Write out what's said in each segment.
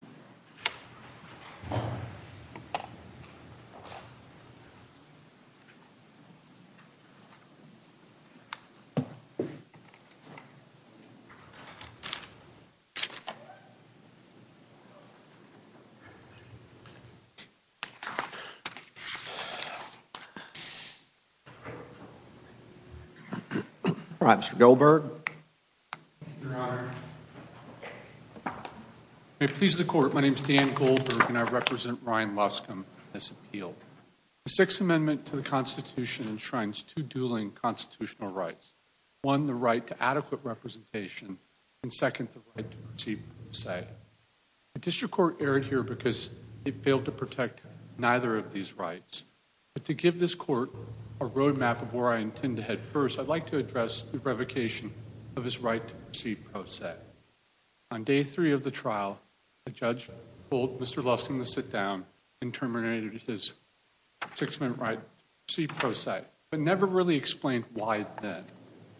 Hi, Orbán. Hi, Mr. Goldberg. Thank you, Your Honor. May it please the Court, my name is Dan Goldberg, and I represent Ryan Luscombe in this appeal. The Sixth Amendment to the Constitution enshrines two dueling constitutional rights. One, the right to adequate representation, and second, the right to proceed with a say. The District Court erred here because it failed to protect neither of these rights. But to give this Court a roadmap of where I intend to head first, I'd like to address the revocation of his right to proceed pro se. On day three of the trial, a judge told Mr. Luscombe to sit down and terminated his Sixth Amendment right to proceed pro se, but never really explained why then.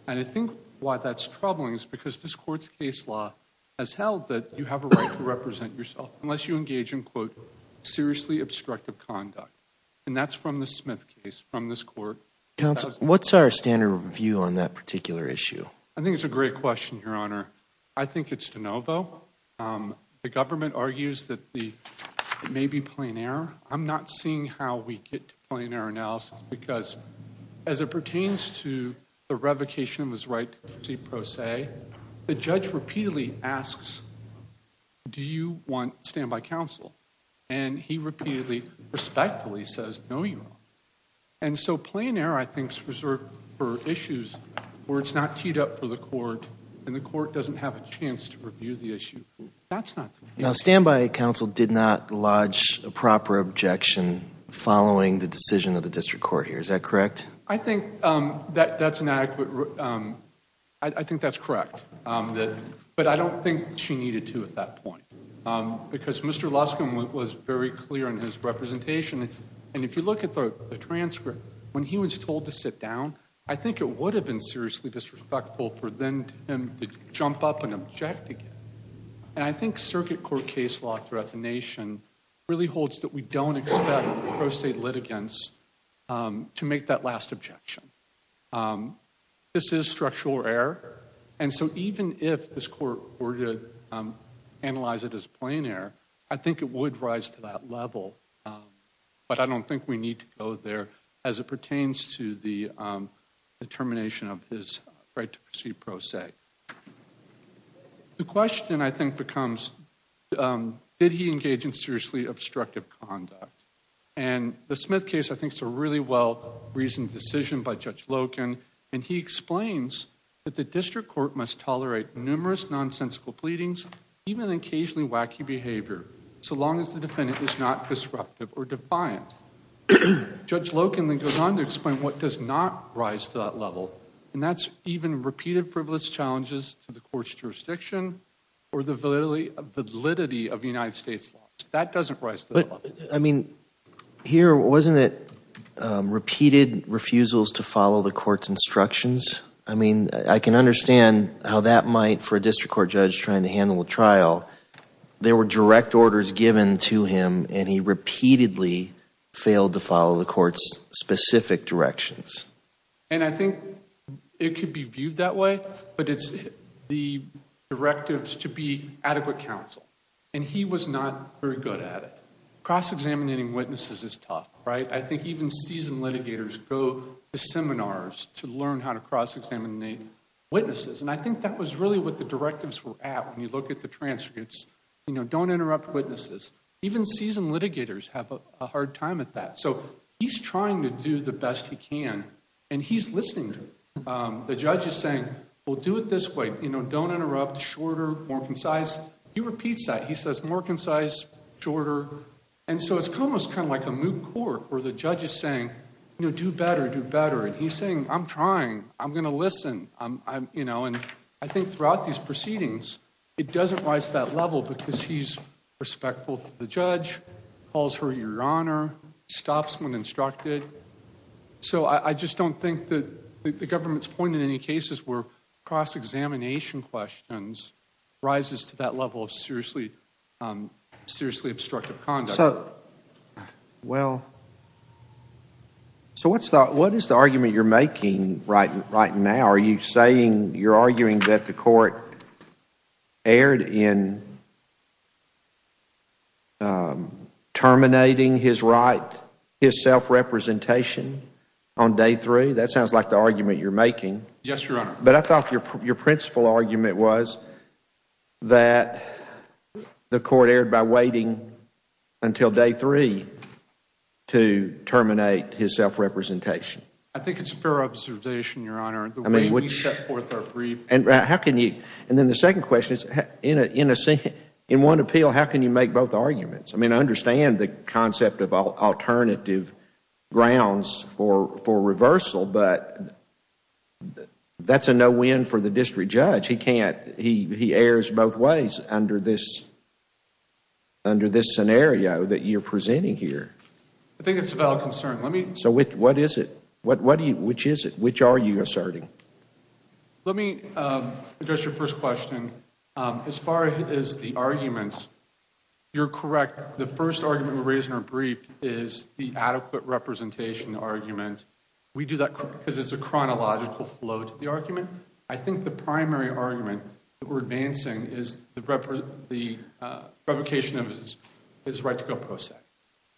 And I think why that's troubling is because this Court's case law has held that you have a right to represent yourself unless you engage in, quote, seriously obstructive conduct. And that's from the Smith case from this Court. Counsel, what's our standard view on that particular issue? I think it's a great question, Your Honor. I think it's de novo. The government argues that it may be plain error. I'm not seeing how we get to plain error analysis because as it pertains to the revocation of his right to proceed pro se, the judge repeatedly asks, do you want standby counsel? And he repeatedly, respectfully says, no, you don't. And so plain error, I think, is reserved for issues where it's not teed up for the Court and the Court doesn't have a chance to review the issue. That's not the case. Now, standby counsel did not lodge a proper objection following the decision of the District Court here. Is that correct? I think that's correct. But I don't think she needed to at that point because Mr. Luscombe was very clear in his representation. And if you look at the transcript, when he was told to sit down, I think it would have been seriously disrespectful for him to jump up and object again. And I think circuit court case law throughout the nation really holds that we don't expect pro se litigants to make that last objection. This is structural error. And so even if this Court were to analyze it as plain error, I think it would rise to that level. But I don't think we need to go there as it pertains to the termination of his right to proceed pro se. The question, I think, becomes, did he engage in seriously obstructive conduct? And the Smith case, I think, is a really well-reasoned decision by Judge Loken. And he explains that the District Court must tolerate numerous nonsensical pleadings, even occasionally wacky behavior, so long as the defendant is not disruptive or defiant. Judge Loken then goes on to explain what does not rise to that level, and that's even repeated frivolous challenges to the Court's jurisdiction or the validity of United States laws. That doesn't rise to that level. I mean, here, wasn't it repeated refusals to follow the Court's instructions? I mean, I can understand how that might, for a District Court judge trying to handle a trial, there were direct orders given to him, and he repeatedly failed to follow the Court's specific directions. And I think it could be viewed that way, but it's the directives to be adequate counsel. And he was not very good at it. Cross-examining witnesses is tough, right? I think even seasoned litigators go to seminars to learn how to cross-examine witnesses. And I think that was really what the directives were at when you look at the transcripts. You know, don't interrupt witnesses. Even seasoned litigators have a hard time at that. So he's trying to do the best he can, and he's listening to them. The judge is saying, well, do it this way. You know, don't interrupt. Shorter, more concise. He repeats that. He says, more concise, shorter. And so it's almost kind of like a moot court, where the judge is saying, you know, do better, do better. And he's saying, I'm trying. I'm going to listen. You know, and I think throughout these proceedings, it doesn't rise to that level because he's respectful to the judge, calls her Your Honor, stops when instructed. So I just don't think that the government's point in any cases where cross-examination questions rises to that level of seriously obstructive conduct. So, well, so what is the argument you're making right now? Are you saying, you're arguing that the court erred in terminating his right, his self-representation on day three? That sounds like the argument you're making. Yes, Your Honor. But I thought your principal argument was that the court erred by waiting until day three to terminate his self-representation. I think it's a fair observation, Your Honor, the way we set forth our brief. And then the second question is, in one appeal, how can you make both arguments? I mean, I understand the concept of alternative grounds for reversal, but that's a no-win for the district judge. He can't. He errs both ways under this scenario that you're presenting here. I think it's a valid concern. So what is it? Which is it? Which are you asserting? Let me address your first question. As far as the arguments, you're correct. The first argument we raise in our brief is the adequate representation argument. We do that because there's a chronological flow to the argument. I think the primary argument that we're advancing is the revocation of his right to go pro sec.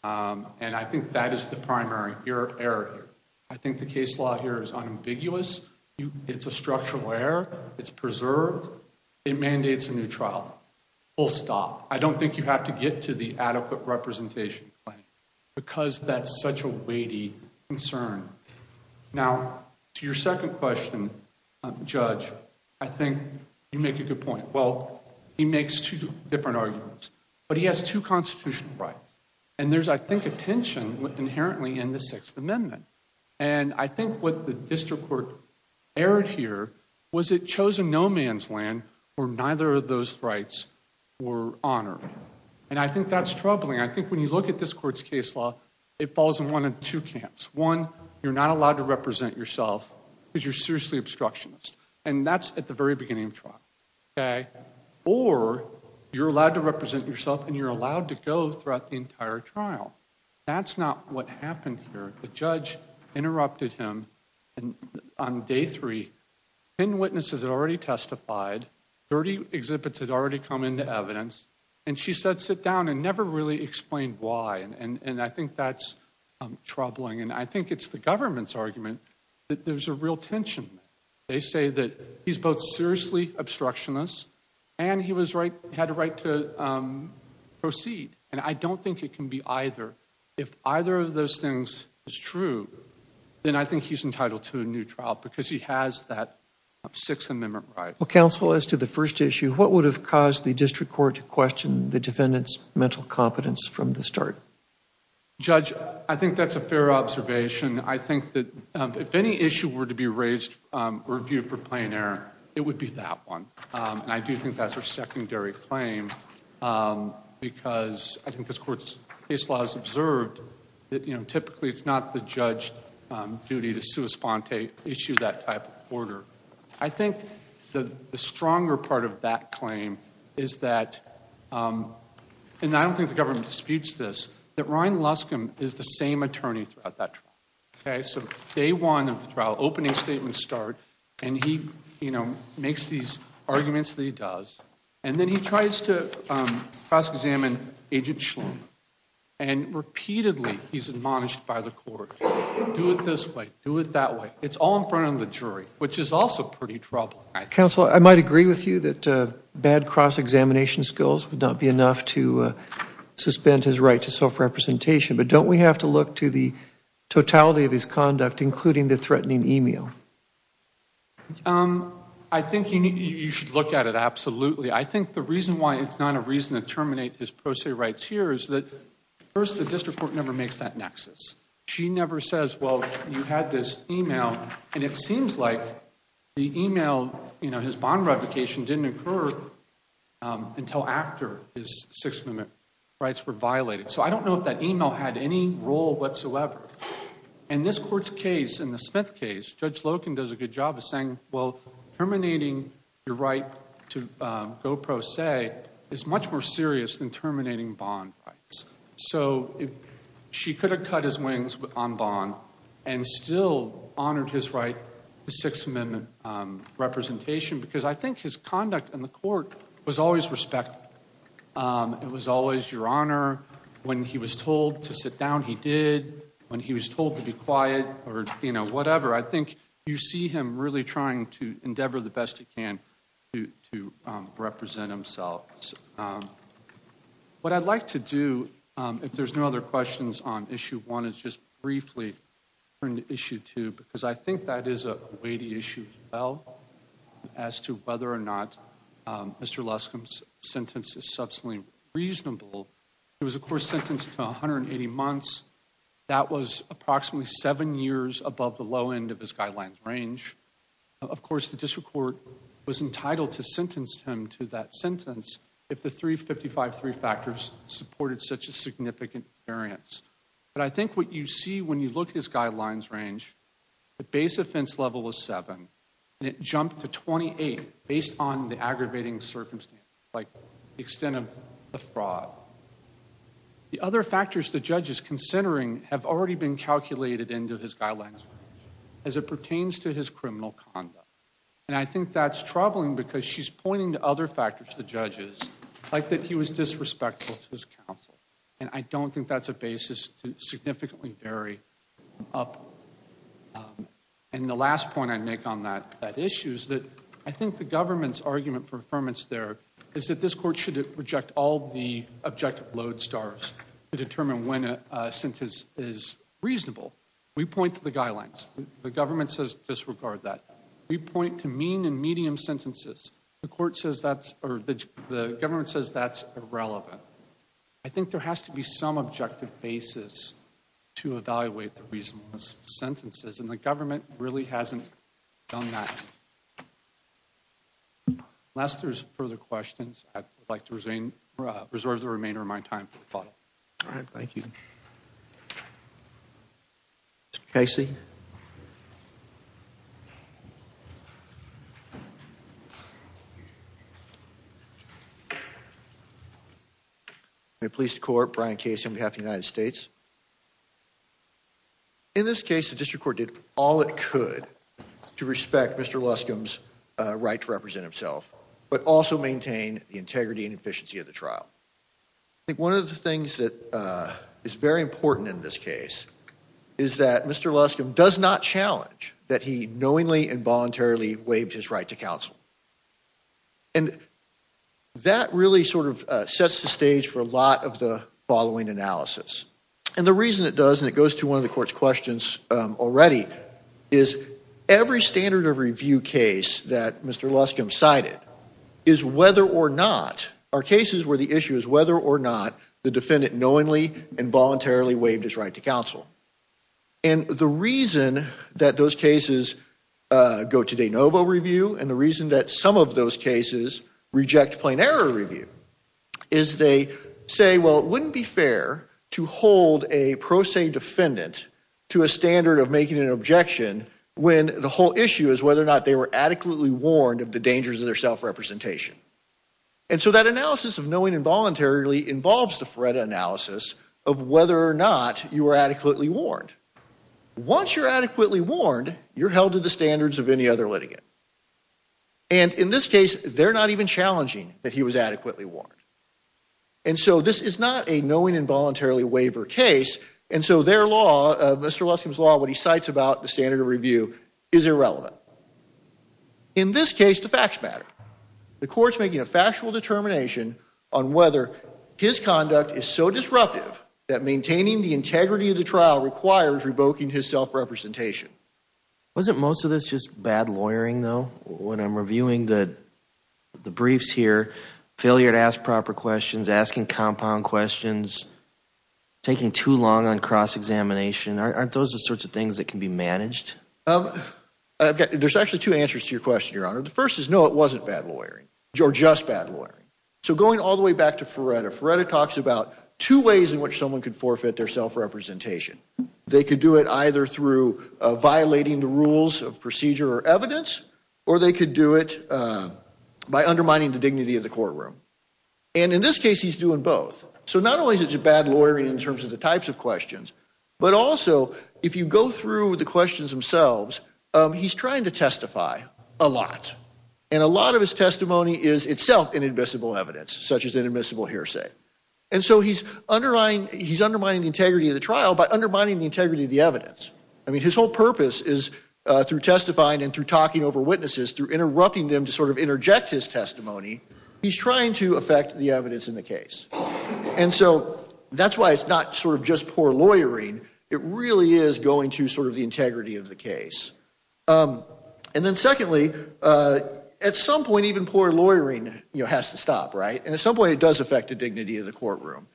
And I think that is the primary error here. I think the case law here is unambiguous. It's a structural error. It's preserved. It mandates a new trial. Full stop. I don't think you have to get to the adequate representation claim. Because that's such a weighty concern. Now, to your second question, Judge, I think you make a good point. Well, he makes two different arguments. But he has two constitutional rights. And there's, I think, a tension inherently in the Sixth Amendment. And I think what the district court erred here was it chose a no-man's land where neither of those rights were honored. And I think that's troubling. I think when you look at this court's case law, it falls in one of two camps. One, you're not allowed to represent yourself because you're seriously obstructionist. And that's at the very beginning of trial. Or you're allowed to represent yourself and you're allowed to go throughout the entire trial. That's not what happened here. The judge interrupted him on day three. Ten witnesses had already testified. Thirty exhibits had already come into evidence. And she said, sit down, and never really explained why. And I think that's troubling. And I think it's the government's argument that there's a real tension. They say that he's both seriously obstructionist and he had a right to proceed. And I don't think it can be either. If either of those things is true, then I think he's entitled to a new trial because he has that Sixth Amendment right. Well, counsel, as to the first issue, what would have caused the district court to question the defendant's mental competence from the start? Judge, I think that's a fair observation. I think that if any issue were to be raised or reviewed for plain error, it would be that one. And I do think that's a secondary claim because I think this court's case law has observed that, you know, typically it's not the judge's duty to sui sponte, issue that type of order. I think the stronger part of that claim is that, and I don't think the government disputes this, that Ryan Luskum is the same attorney throughout that trial. Okay? So day one of the trial, opening statements start, and he, you know, makes these arguments that he does. And then he tries to cross-examine Agent Schlum. And repeatedly he's admonished by the court. Do it this way. Do it that way. It's all in front of the jury, which is also pretty troubling. Counsel, I might agree with you that bad cross-examination skills would not be enough to suspend his right to self-representation. But don't we have to look to the totality of his conduct, including the threatening e-mail? I think you should look at it absolutely. I think the reason why it's not a reason to terminate his pro se rights here is that, first, the district court never makes that nexus. She never says, well, you had this e-mail. And it seems like the e-mail, you know, his bond revocation didn't occur until after his six-minute rights were violated. So I don't know if that e-mail had any role whatsoever. In this court's case, in the Smith case, Judge Loken does a good job of saying, well, terminating your right to go pro se is much more serious than terminating bond rights. So she could have cut his wings on bond and still honored his right to six-minute representation, because I think his conduct in the court was always respectful. It was always your honor. When he was told to sit down, he did. When he was told to be quiet or, you know, whatever, I think you see him really trying to endeavor the best he can to represent himself. What I'd like to do, if there's no other questions on Issue 1, is just briefly turn to Issue 2, because I think that is a weighty issue as well as to whether or not Mr. Luskom's sentence is substantially reasonable. He was, of course, sentenced to 180 months. That was approximately seven years above the low end of his guidelines range. Of course, the district court was entitled to sentence him to that sentence if the 355-3 factors supported such a significant variance. But I think what you see when you look at his guidelines range, the base offense level is seven, and it jumped to 28 based on the aggravating circumstances, like the extent of the fraud. The other factors the judge is considering have already been calculated into his guidelines range. As it pertains to his criminal conduct, and I think that's troubling because she's pointing to other factors, the judge is, like that he was disrespectful to his counsel, and I don't think that's a basis to significantly vary up. And the last point I'd make on that issue is that I think the government's argument for affirmance there is that this court should reject all the objective load stars to determine when a sentence is reasonable. We point to the guidelines. The government says disregard that. We point to mean and medium sentences. The government says that's irrelevant. I think there has to be some objective basis to evaluate the reasonableness of sentences, and the government really hasn't done that. Unless there's further questions, I'd like to reserve the remainder of my time for the follow-up. All right, thank you. Mr. Casey. I'm a police court, Brian Casey, on behalf of the United States. In this case, the district court did all it could to respect Mr. Luscombe's right to represent himself, but also maintain the integrity and efficiency of the trial. I think one of the things that is very important in this case is that Mr. Luscombe does not challenge that he knowingly and voluntarily waived his right to counsel. And that really sort of sets the stage for a lot of the following analysis. And the reason it does, and it goes to one of the court's questions already, is every standard of review case that Mr. Luscombe cited is whether or not are cases where the issue is whether or not the defendant knowingly and voluntarily waived his right to counsel. And the reason that those cases go to de novo review and the reason that some of those cases reject plain error review is they say, well, it wouldn't be fair to hold a pro se defendant to a standard of making an objection when the whole issue is whether or not they were adequately warned of the dangers of their self-representation. And so that analysis of knowingly and voluntarily involves the threat analysis of whether or not you were adequately warned. Once you're adequately warned, you're held to the standards of any other litigant. And in this case, they're not even challenging that he was adequately warned. And so this is not a knowingly and voluntarily waiver case. And so their law, Mr. Luscombe's law, when he cites about the standard of review, is irrelevant. In this case, the facts matter. The court's making a factual determination on whether his conduct is so disruptive that maintaining the integrity of the trial requires revoking his self-representation. Wasn't most of this just bad lawyering, though? When I'm reviewing the briefs here, failure to ask proper questions, asking compound questions, taking too long on cross-examination, aren't those the sorts of things that can be managed? There's actually two answers to your question, Your Honor. The first is no, it wasn't bad lawyering or just bad lawyering. So going all the way back to Ferretta, Ferretta talks about two ways in which someone could forfeit their self-representation. They could do it either through violating the rules of procedure or evidence, or they could do it by undermining the dignity of the courtroom. And in this case, he's doing both. So not only is it bad lawyering in terms of the types of questions, but also if you go through the questions themselves, he's trying to testify a lot. And a lot of his testimony is itself inadmissible evidence, such as inadmissible hearsay. And so he's undermining the integrity of the trial by undermining the integrity of the evidence. I mean, his whole purpose is through testifying and through talking over witnesses, through interrupting them to sort of interject his testimony, he's trying to affect the evidence in the case. And so that's why it's not sort of just poor lawyering. It really is going to sort of the integrity of the case. And then secondly, at some point even poor lawyering has to stop, right? And at some point it does affect the dignity of the courtroom.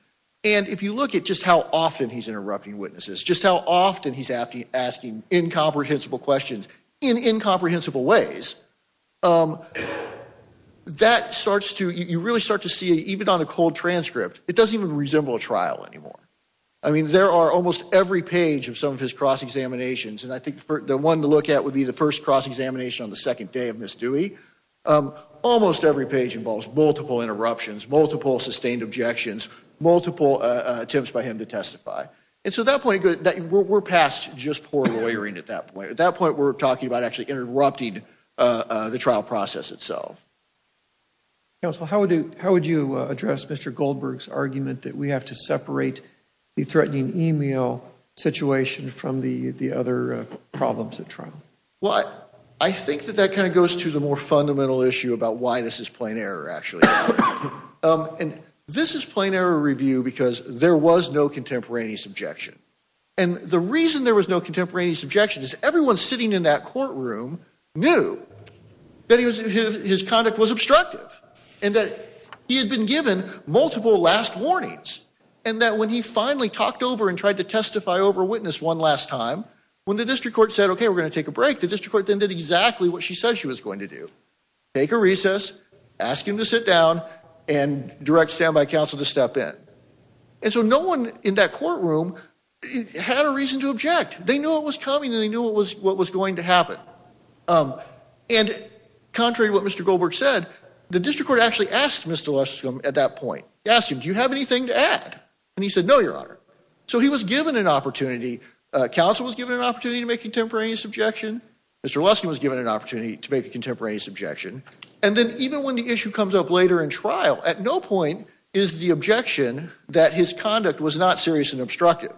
And if you look at just how often he's interrupting witnesses, just how often he's asking incomprehensible questions in incomprehensible ways, that starts to, you really start to see, even on a cold transcript, it doesn't even resemble a trial anymore. I mean, there are almost every page of some of his cross-examinations, and I think the one to look at would be the first cross-examination on the second day of Miss Dewey. Almost every page involves multiple interruptions, multiple sustained objections, multiple attempts by him to testify. And so at that point, we're past just poor lawyering at that point. At that point, we're talking about actually interrupting the trial process itself. Counsel, how would you address Mr. Goldberg's argument that we have to separate the threatening email situation from the other problems at trial? Well, I think that that kind of goes to the more fundamental issue about why this is plain error, actually. And this is plain error review because there was no contemporaneous objection. And the reason there was no contemporaneous objection is everyone sitting in that courtroom knew that his conduct was obstructive and that he had been given multiple last warnings and that when he finally talked over and tried to testify over witness one last time, when the district court said, okay, we're going to take a break, the district court then did exactly what she said she was going to do, take a recess, ask him to sit down, and direct standby counsel to step in. And so no one in that courtroom had a reason to object. They knew what was coming and they knew what was going to happen. And contrary to what Mr. Goldberg said, the district court actually asked Mr. Luskum at that point, asked him, do you have anything to add? And he said, no, Your Honor. So he was given an opportunity. Counsel was given an opportunity to make a contemporaneous objection. Mr. Luskum was given an opportunity to make a contemporaneous objection. And then even when the issue comes up later in trial, at no point is the objection that his conduct was not serious and obstructive.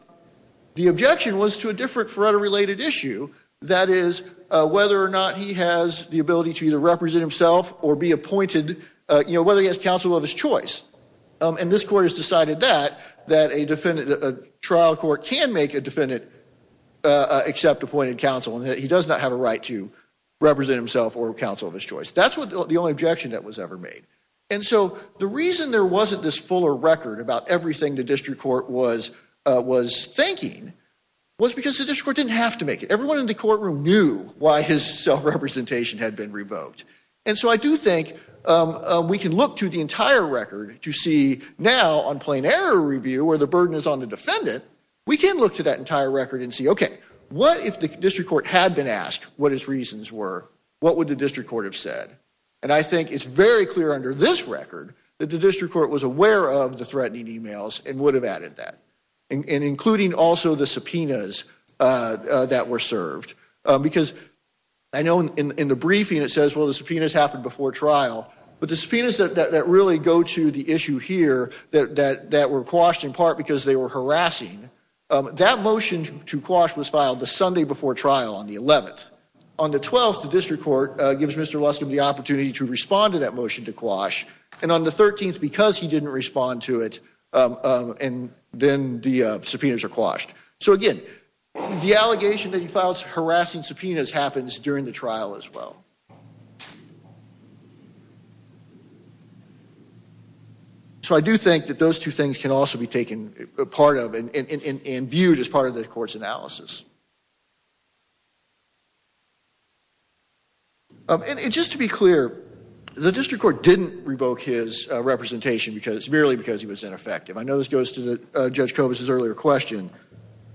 The objection was to a different federal related issue, that is, whether or not he has the ability to either represent himself or be appointed, whether he has counsel of his choice. And this court has decided that, that a trial court can make a defendant accept appointed counsel and that he does not have a right to represent himself or counsel of his choice. That's the only objection that was ever made. And so the reason there wasn't this fuller record about everything the district court was thinking was because the district court didn't have to make it. Everyone in the courtroom knew why his self-representation had been revoked. And so I do think we can look to the entire record to see now on plain error review where the burden is on the defendant, we can look to that entire record and see, okay, what if the district court had been asked what his reasons were? What would the district court have said? And I think it's very clear under this record that the district court was aware of the threatening emails and would have added that, including also the subpoenas that were served. Because I know in the briefing it says, well, the subpoenas happened before trial, but the subpoenas that really go to the issue here that were quashed in part because they were harassing, that motion to quash was filed the Sunday before trial on the 11th. On the 12th, the district court gives Mr. Luskum the opportunity to respond to that motion to quash. And on the 13th, because he didn't respond to it, then the subpoenas are quashed. So, again, the allegation that he filed harassing subpoenas happens during the trial as well. So I do think that those two things can also be taken apart of and viewed as part of the court's analysis. And just to be clear, the district court didn't revoke his representation because, merely because he was ineffective. I know this goes to Judge Kobus' earlier question,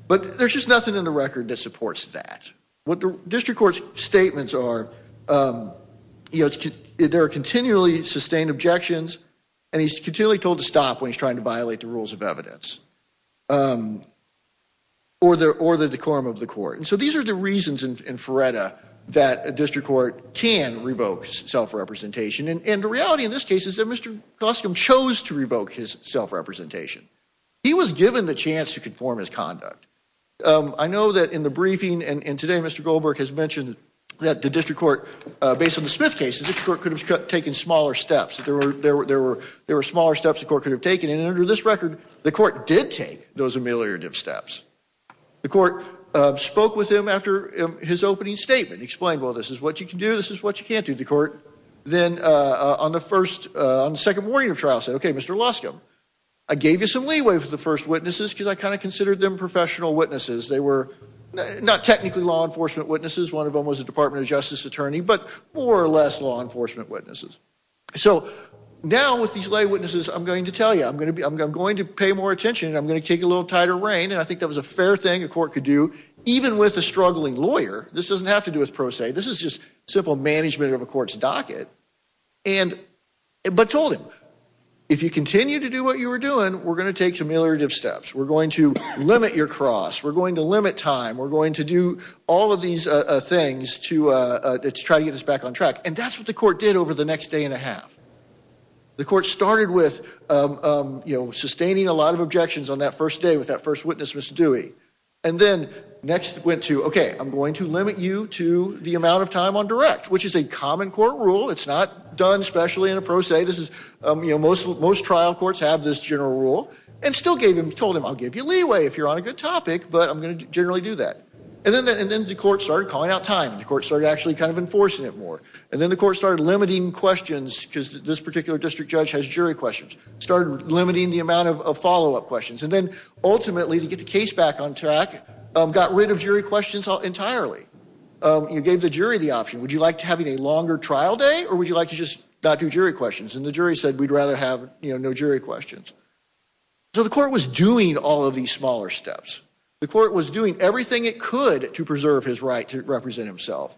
but there's just nothing in the record that supports that. What the district court's statements are, there are continually sustained objections, and he's continually told to stop when he's trying to violate the rules of evidence or the decorum of the court. And so these are the reasons in Feretta that a district court can revoke self-representation. And the reality in this case is that Mr. Luskum chose to revoke his self-representation. He was given the chance to conform his conduct. I know that in the briefing, and today Mr. Goldberg has mentioned that the district court, based on the Smith case, the district court could have taken smaller steps. There were smaller steps the court could have taken. And under this record, the court did take those ameliorative steps. The court spoke with him after his opening statement, explained, well, this is what you can do, this is what you can't do. The court then, on the second morning of trial, said, okay, Mr. Luskum, I gave you some leeway for the first witnesses because I kind of considered them professional witnesses. They were not technically law enforcement witnesses. One of them was a Department of Justice attorney, but more or less law enforcement witnesses. So now with these lay witnesses, I'm going to tell you, I'm going to pay more attention, and I'm going to kick a little tighter rein, and I think that was a fair thing a court could do, even with a struggling lawyer. This doesn't have to do with pro se. This is just simple management of a court's docket. But told him, if you continue to do what you were doing, we're going to take ameliorative steps. We're going to limit your cross. We're going to limit time. We're going to do all of these things to try to get us back on track. And that's what the court did over the next day and a half. The court started with sustaining a lot of objections on that first day with that first witness, Mr. Dewey, and then next went to, okay, I'm going to limit you to the amount of time on direct, which is a common court rule. It's not done specially in a pro se. This is, you know, most trial courts have this general rule. And still gave him, told him, I'll give you leeway if you're on a good topic, but I'm going to generally do that. And then the court started calling out time. The court started actually kind of enforcing it more. And then the court started limiting questions because this particular district judge has jury questions. Started limiting the amount of follow-up questions. And then ultimately to get the case back on track, got rid of jury questions entirely. You gave the jury the option. Would you like to have a longer trial day or would you like to just not do jury questions? And the jury said we'd rather have, you know, no jury questions. So the court was doing all of these smaller steps. The court was doing everything it could to preserve his right to represent himself.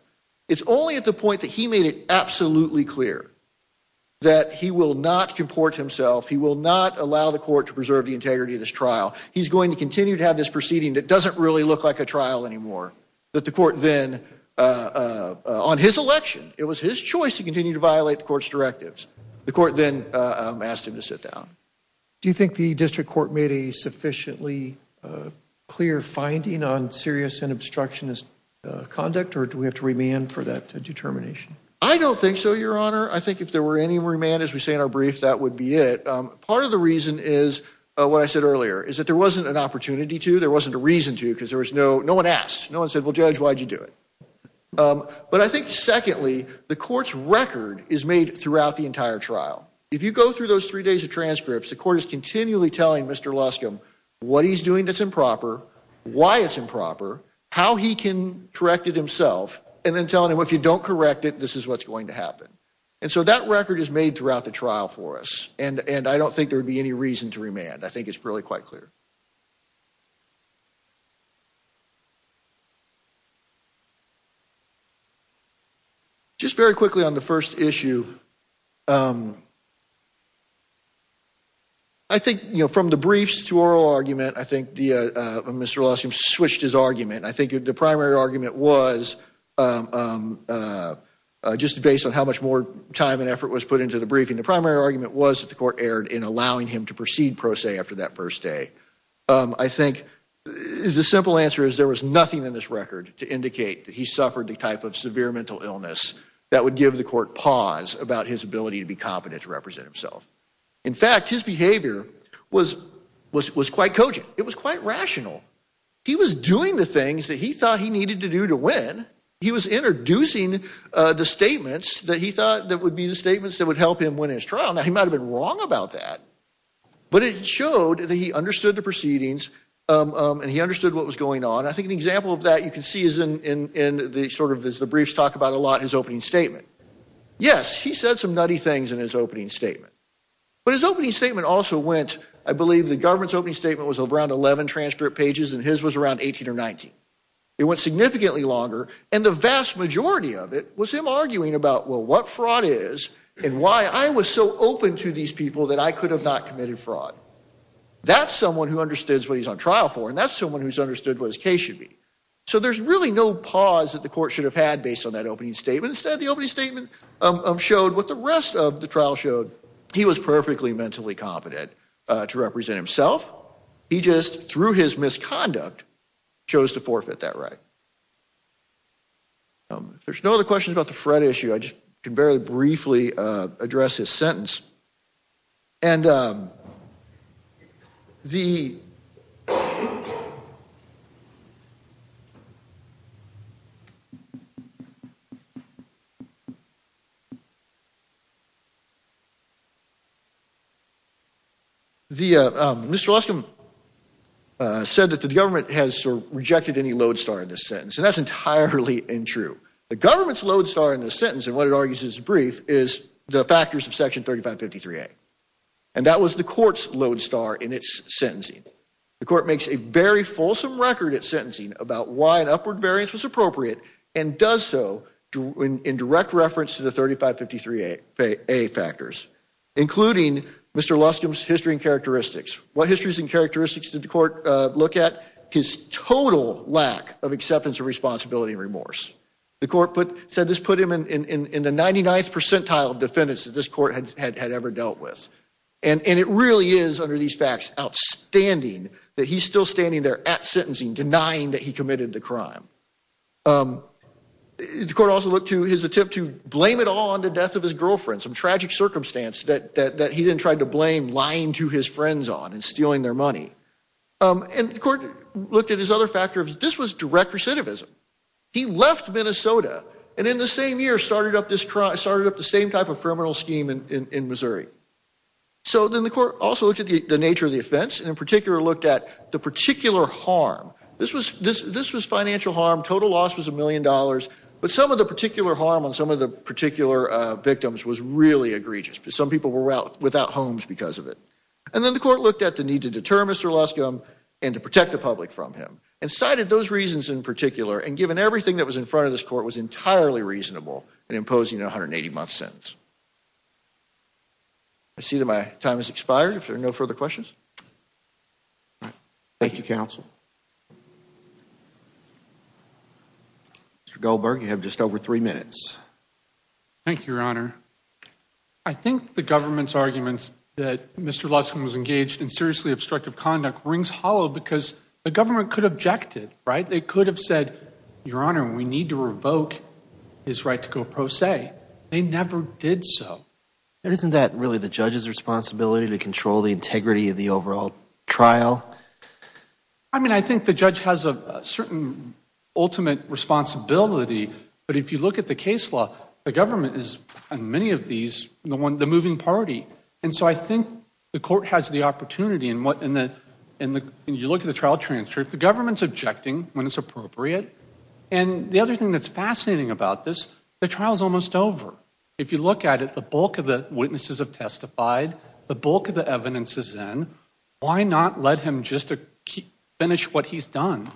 It's only at the point that he made it absolutely clear that he will not comport himself, he will not allow the court to preserve the integrity of this trial. He's going to continue to have this proceeding that doesn't really look like a trial anymore. But the court then, on his election, it was his choice to continue to violate the court's directives. The court then asked him to sit down. Do you think the district court made a sufficiently clear finding on serious and obstructionist conduct or do we have to remand for that determination? I don't think so, Your Honor. I think if there were any remand, as we say in our brief, that would be it. Part of the reason is what I said earlier, is that there wasn't an opportunity to, there wasn't a reason to because no one asked. No one said, well, Judge, why did you do it? But I think, secondly, the court's record is made throughout the entire trial. If you go through those three days of transcripts, the court is continually telling Mr. Luscombe what he's doing that's improper, why it's improper, how he can correct it himself, and then telling him if you don't correct it, this is what's going to happen. And so that record is made throughout the trial for us. And I don't think there would be any reason to remand. I think it's really quite clear. Just very quickly on the first issue, I think from the briefs to oral argument, I think Mr. Luscombe switched his argument. I think the primary argument was, just based on how much more time and effort was put into the briefing, the primary argument was that the court erred in allowing him to proceed pro se after that first day. I think the simple answer is there was nothing in this record to indicate that he suffered the type of severe mental illness that would give the court pause about his ability to be competent to represent himself. In fact, his behavior was quite cogent. It was quite rational. He was doing the things that he thought he needed to do to win. He was introducing the statements that he thought would be the statements that would help him win his trial. Now, he might have been wrong about that, but it showed that he understood the proceedings and he understood what was going on. I think an example of that you can see is in sort of as the briefs talk about a lot, his opening statement. Yes, he said some nutty things in his opening statement. But his opening statement also went, I believe the government's opening statement was around 11 transcript pages and his was around 18 or 19. It went significantly longer and the vast majority of it was him arguing about, well, what fraud is and why I was so open to these people that I could have not committed fraud. That's someone who understands what he's on trial for and that's someone who's understood what his case should be. So there's really no pause that the court should have had based on that opening statement. Instead, the opening statement showed what the rest of the trial showed. He was perfectly mentally competent to represent himself. He just, through his misconduct, chose to forfeit that right. If there's no other questions about the Fred issue, I just can very briefly address his sentence. And the, Mr. Luscombe said that the government has rejected any lodestar in this sentence. And that's entirely untrue. The government's lodestar in this sentence, and what it argues is brief, is the factors of section 3553A. And that was the court's lodestar in its sentencing. The court makes a very fulsome record at sentencing about why an upward variance was appropriate and does so in direct reference to the 3553A factors, including Mr. Luscombe's history and characteristics. What histories and characteristics did the court look at? His total lack of acceptance of responsibility and remorse. The court said this put him in the 99th percentile of defendants that this court had ever dealt with. And it really is, under these facts, outstanding that he's still standing there at sentencing, denying that he committed the crime. The court also looked to his attempt to blame it all on the death of his girlfriend, some tragic circumstance that he then tried to blame lying to his friends on and stealing their money. And the court looked at his other factors. This was direct recidivism. He left Minnesota and in the same year started up the same type of criminal scheme in Missouri. So then the court also looked at the nature of the offense and in particular looked at the particular harm. This was financial harm. Total loss was a million dollars. But some of the particular harm on some of the particular victims was really egregious. Some people were without homes because of it. And then the court looked at the need to deter Mr. Luscombe and to protect the public from him and cited those reasons in particular and given everything that was in front of this court was entirely reasonable in imposing a 180-month sentence. I see that my time has expired. If there are no further questions. Thank you, counsel. Mr. Goldberg, you have just over three minutes. Thank you, Your Honor. I think the government's arguments that Mr. Luscombe was engaged in seriously obstructive conduct rings hollow because the government could object it, right? They could have said, Your Honor, we need to revoke his right to go pro se. They never did so. Isn't that really the judge's responsibility to control the integrity of the overall trial? I mean, I think the judge has a certain ultimate responsibility. But if you look at the case law, the government is, in many of these, the moving party. And so I think the court has the opportunity. And you look at the trial transcript, the government's objecting when it's appropriate. And the other thing that's fascinating about this, the trial's almost over. If you look at it, the bulk of the witnesses have testified. The bulk of the evidence is in. Why not let him just finish what he's done?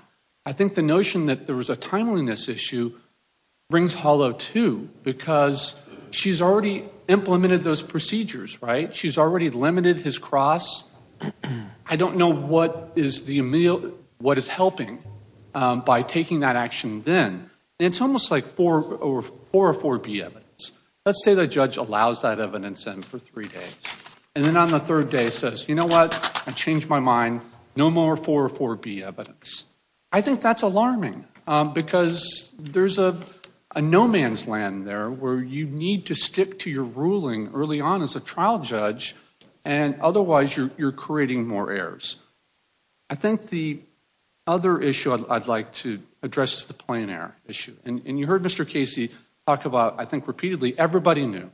I think the notion that there was a timeliness issue rings hollow, too, because she's already implemented those procedures, right? She's already limited his cross. I don't know what is helping by taking that action then. And it's almost like 4B evidence. Let's say the judge allows that evidence in for three days. And then on the third day says, you know what? I changed my mind. No more 4B evidence. I think that's alarming because there's a no man's land there where you need to stick to your ruling early on as a trial judge, and otherwise you're creating more errors. I think the other issue I'd like to address is the plain error issue. And you heard Mr. Casey talk about, I think repeatedly, everybody knew.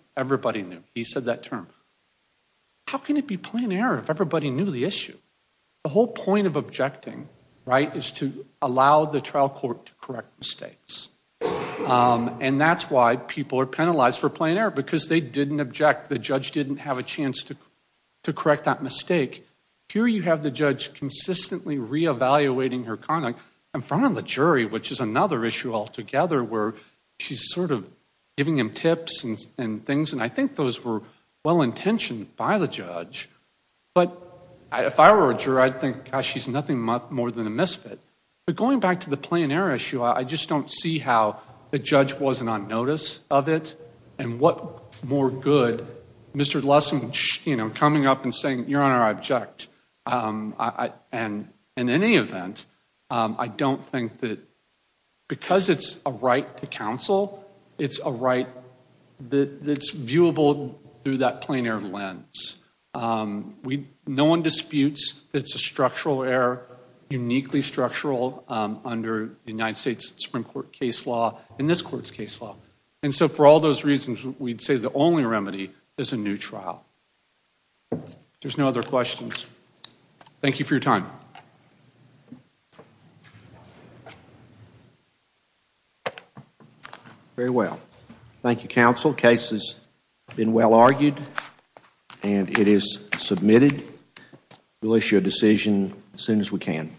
He said that term. How can it be plain error if everybody knew the issue? The whole point of objecting, right, is to allow the trial court to correct mistakes. And that's why people are penalized for plain error, because they didn't object. The judge didn't have a chance to correct that mistake. Here you have the judge consistently reevaluating her conduct in front of the jury, which is another issue altogether where she's sort of giving him tips and things, and I think those were well-intentioned by the judge. But if I were a juror, I'd think, gosh, she's nothing more than a misfit. But going back to the plain error issue, I just don't see how the judge wasn't on notice of it, and what more good Mr. Lessing coming up and saying, your Honor, I object. And in any event, I don't think that because it's a right to counsel, it's a right that's viewable through that plain error lens. No one disputes that it's a structural error, uniquely structural, under the United States Supreme Court case law and this Court's case law. And so for all those reasons, we'd say the only remedy is a new trial. There's no other questions. Thank you for your time. Very well. Thank you, counsel. Case has been well argued, and it is submitted. We'll issue a decision as soon as we can.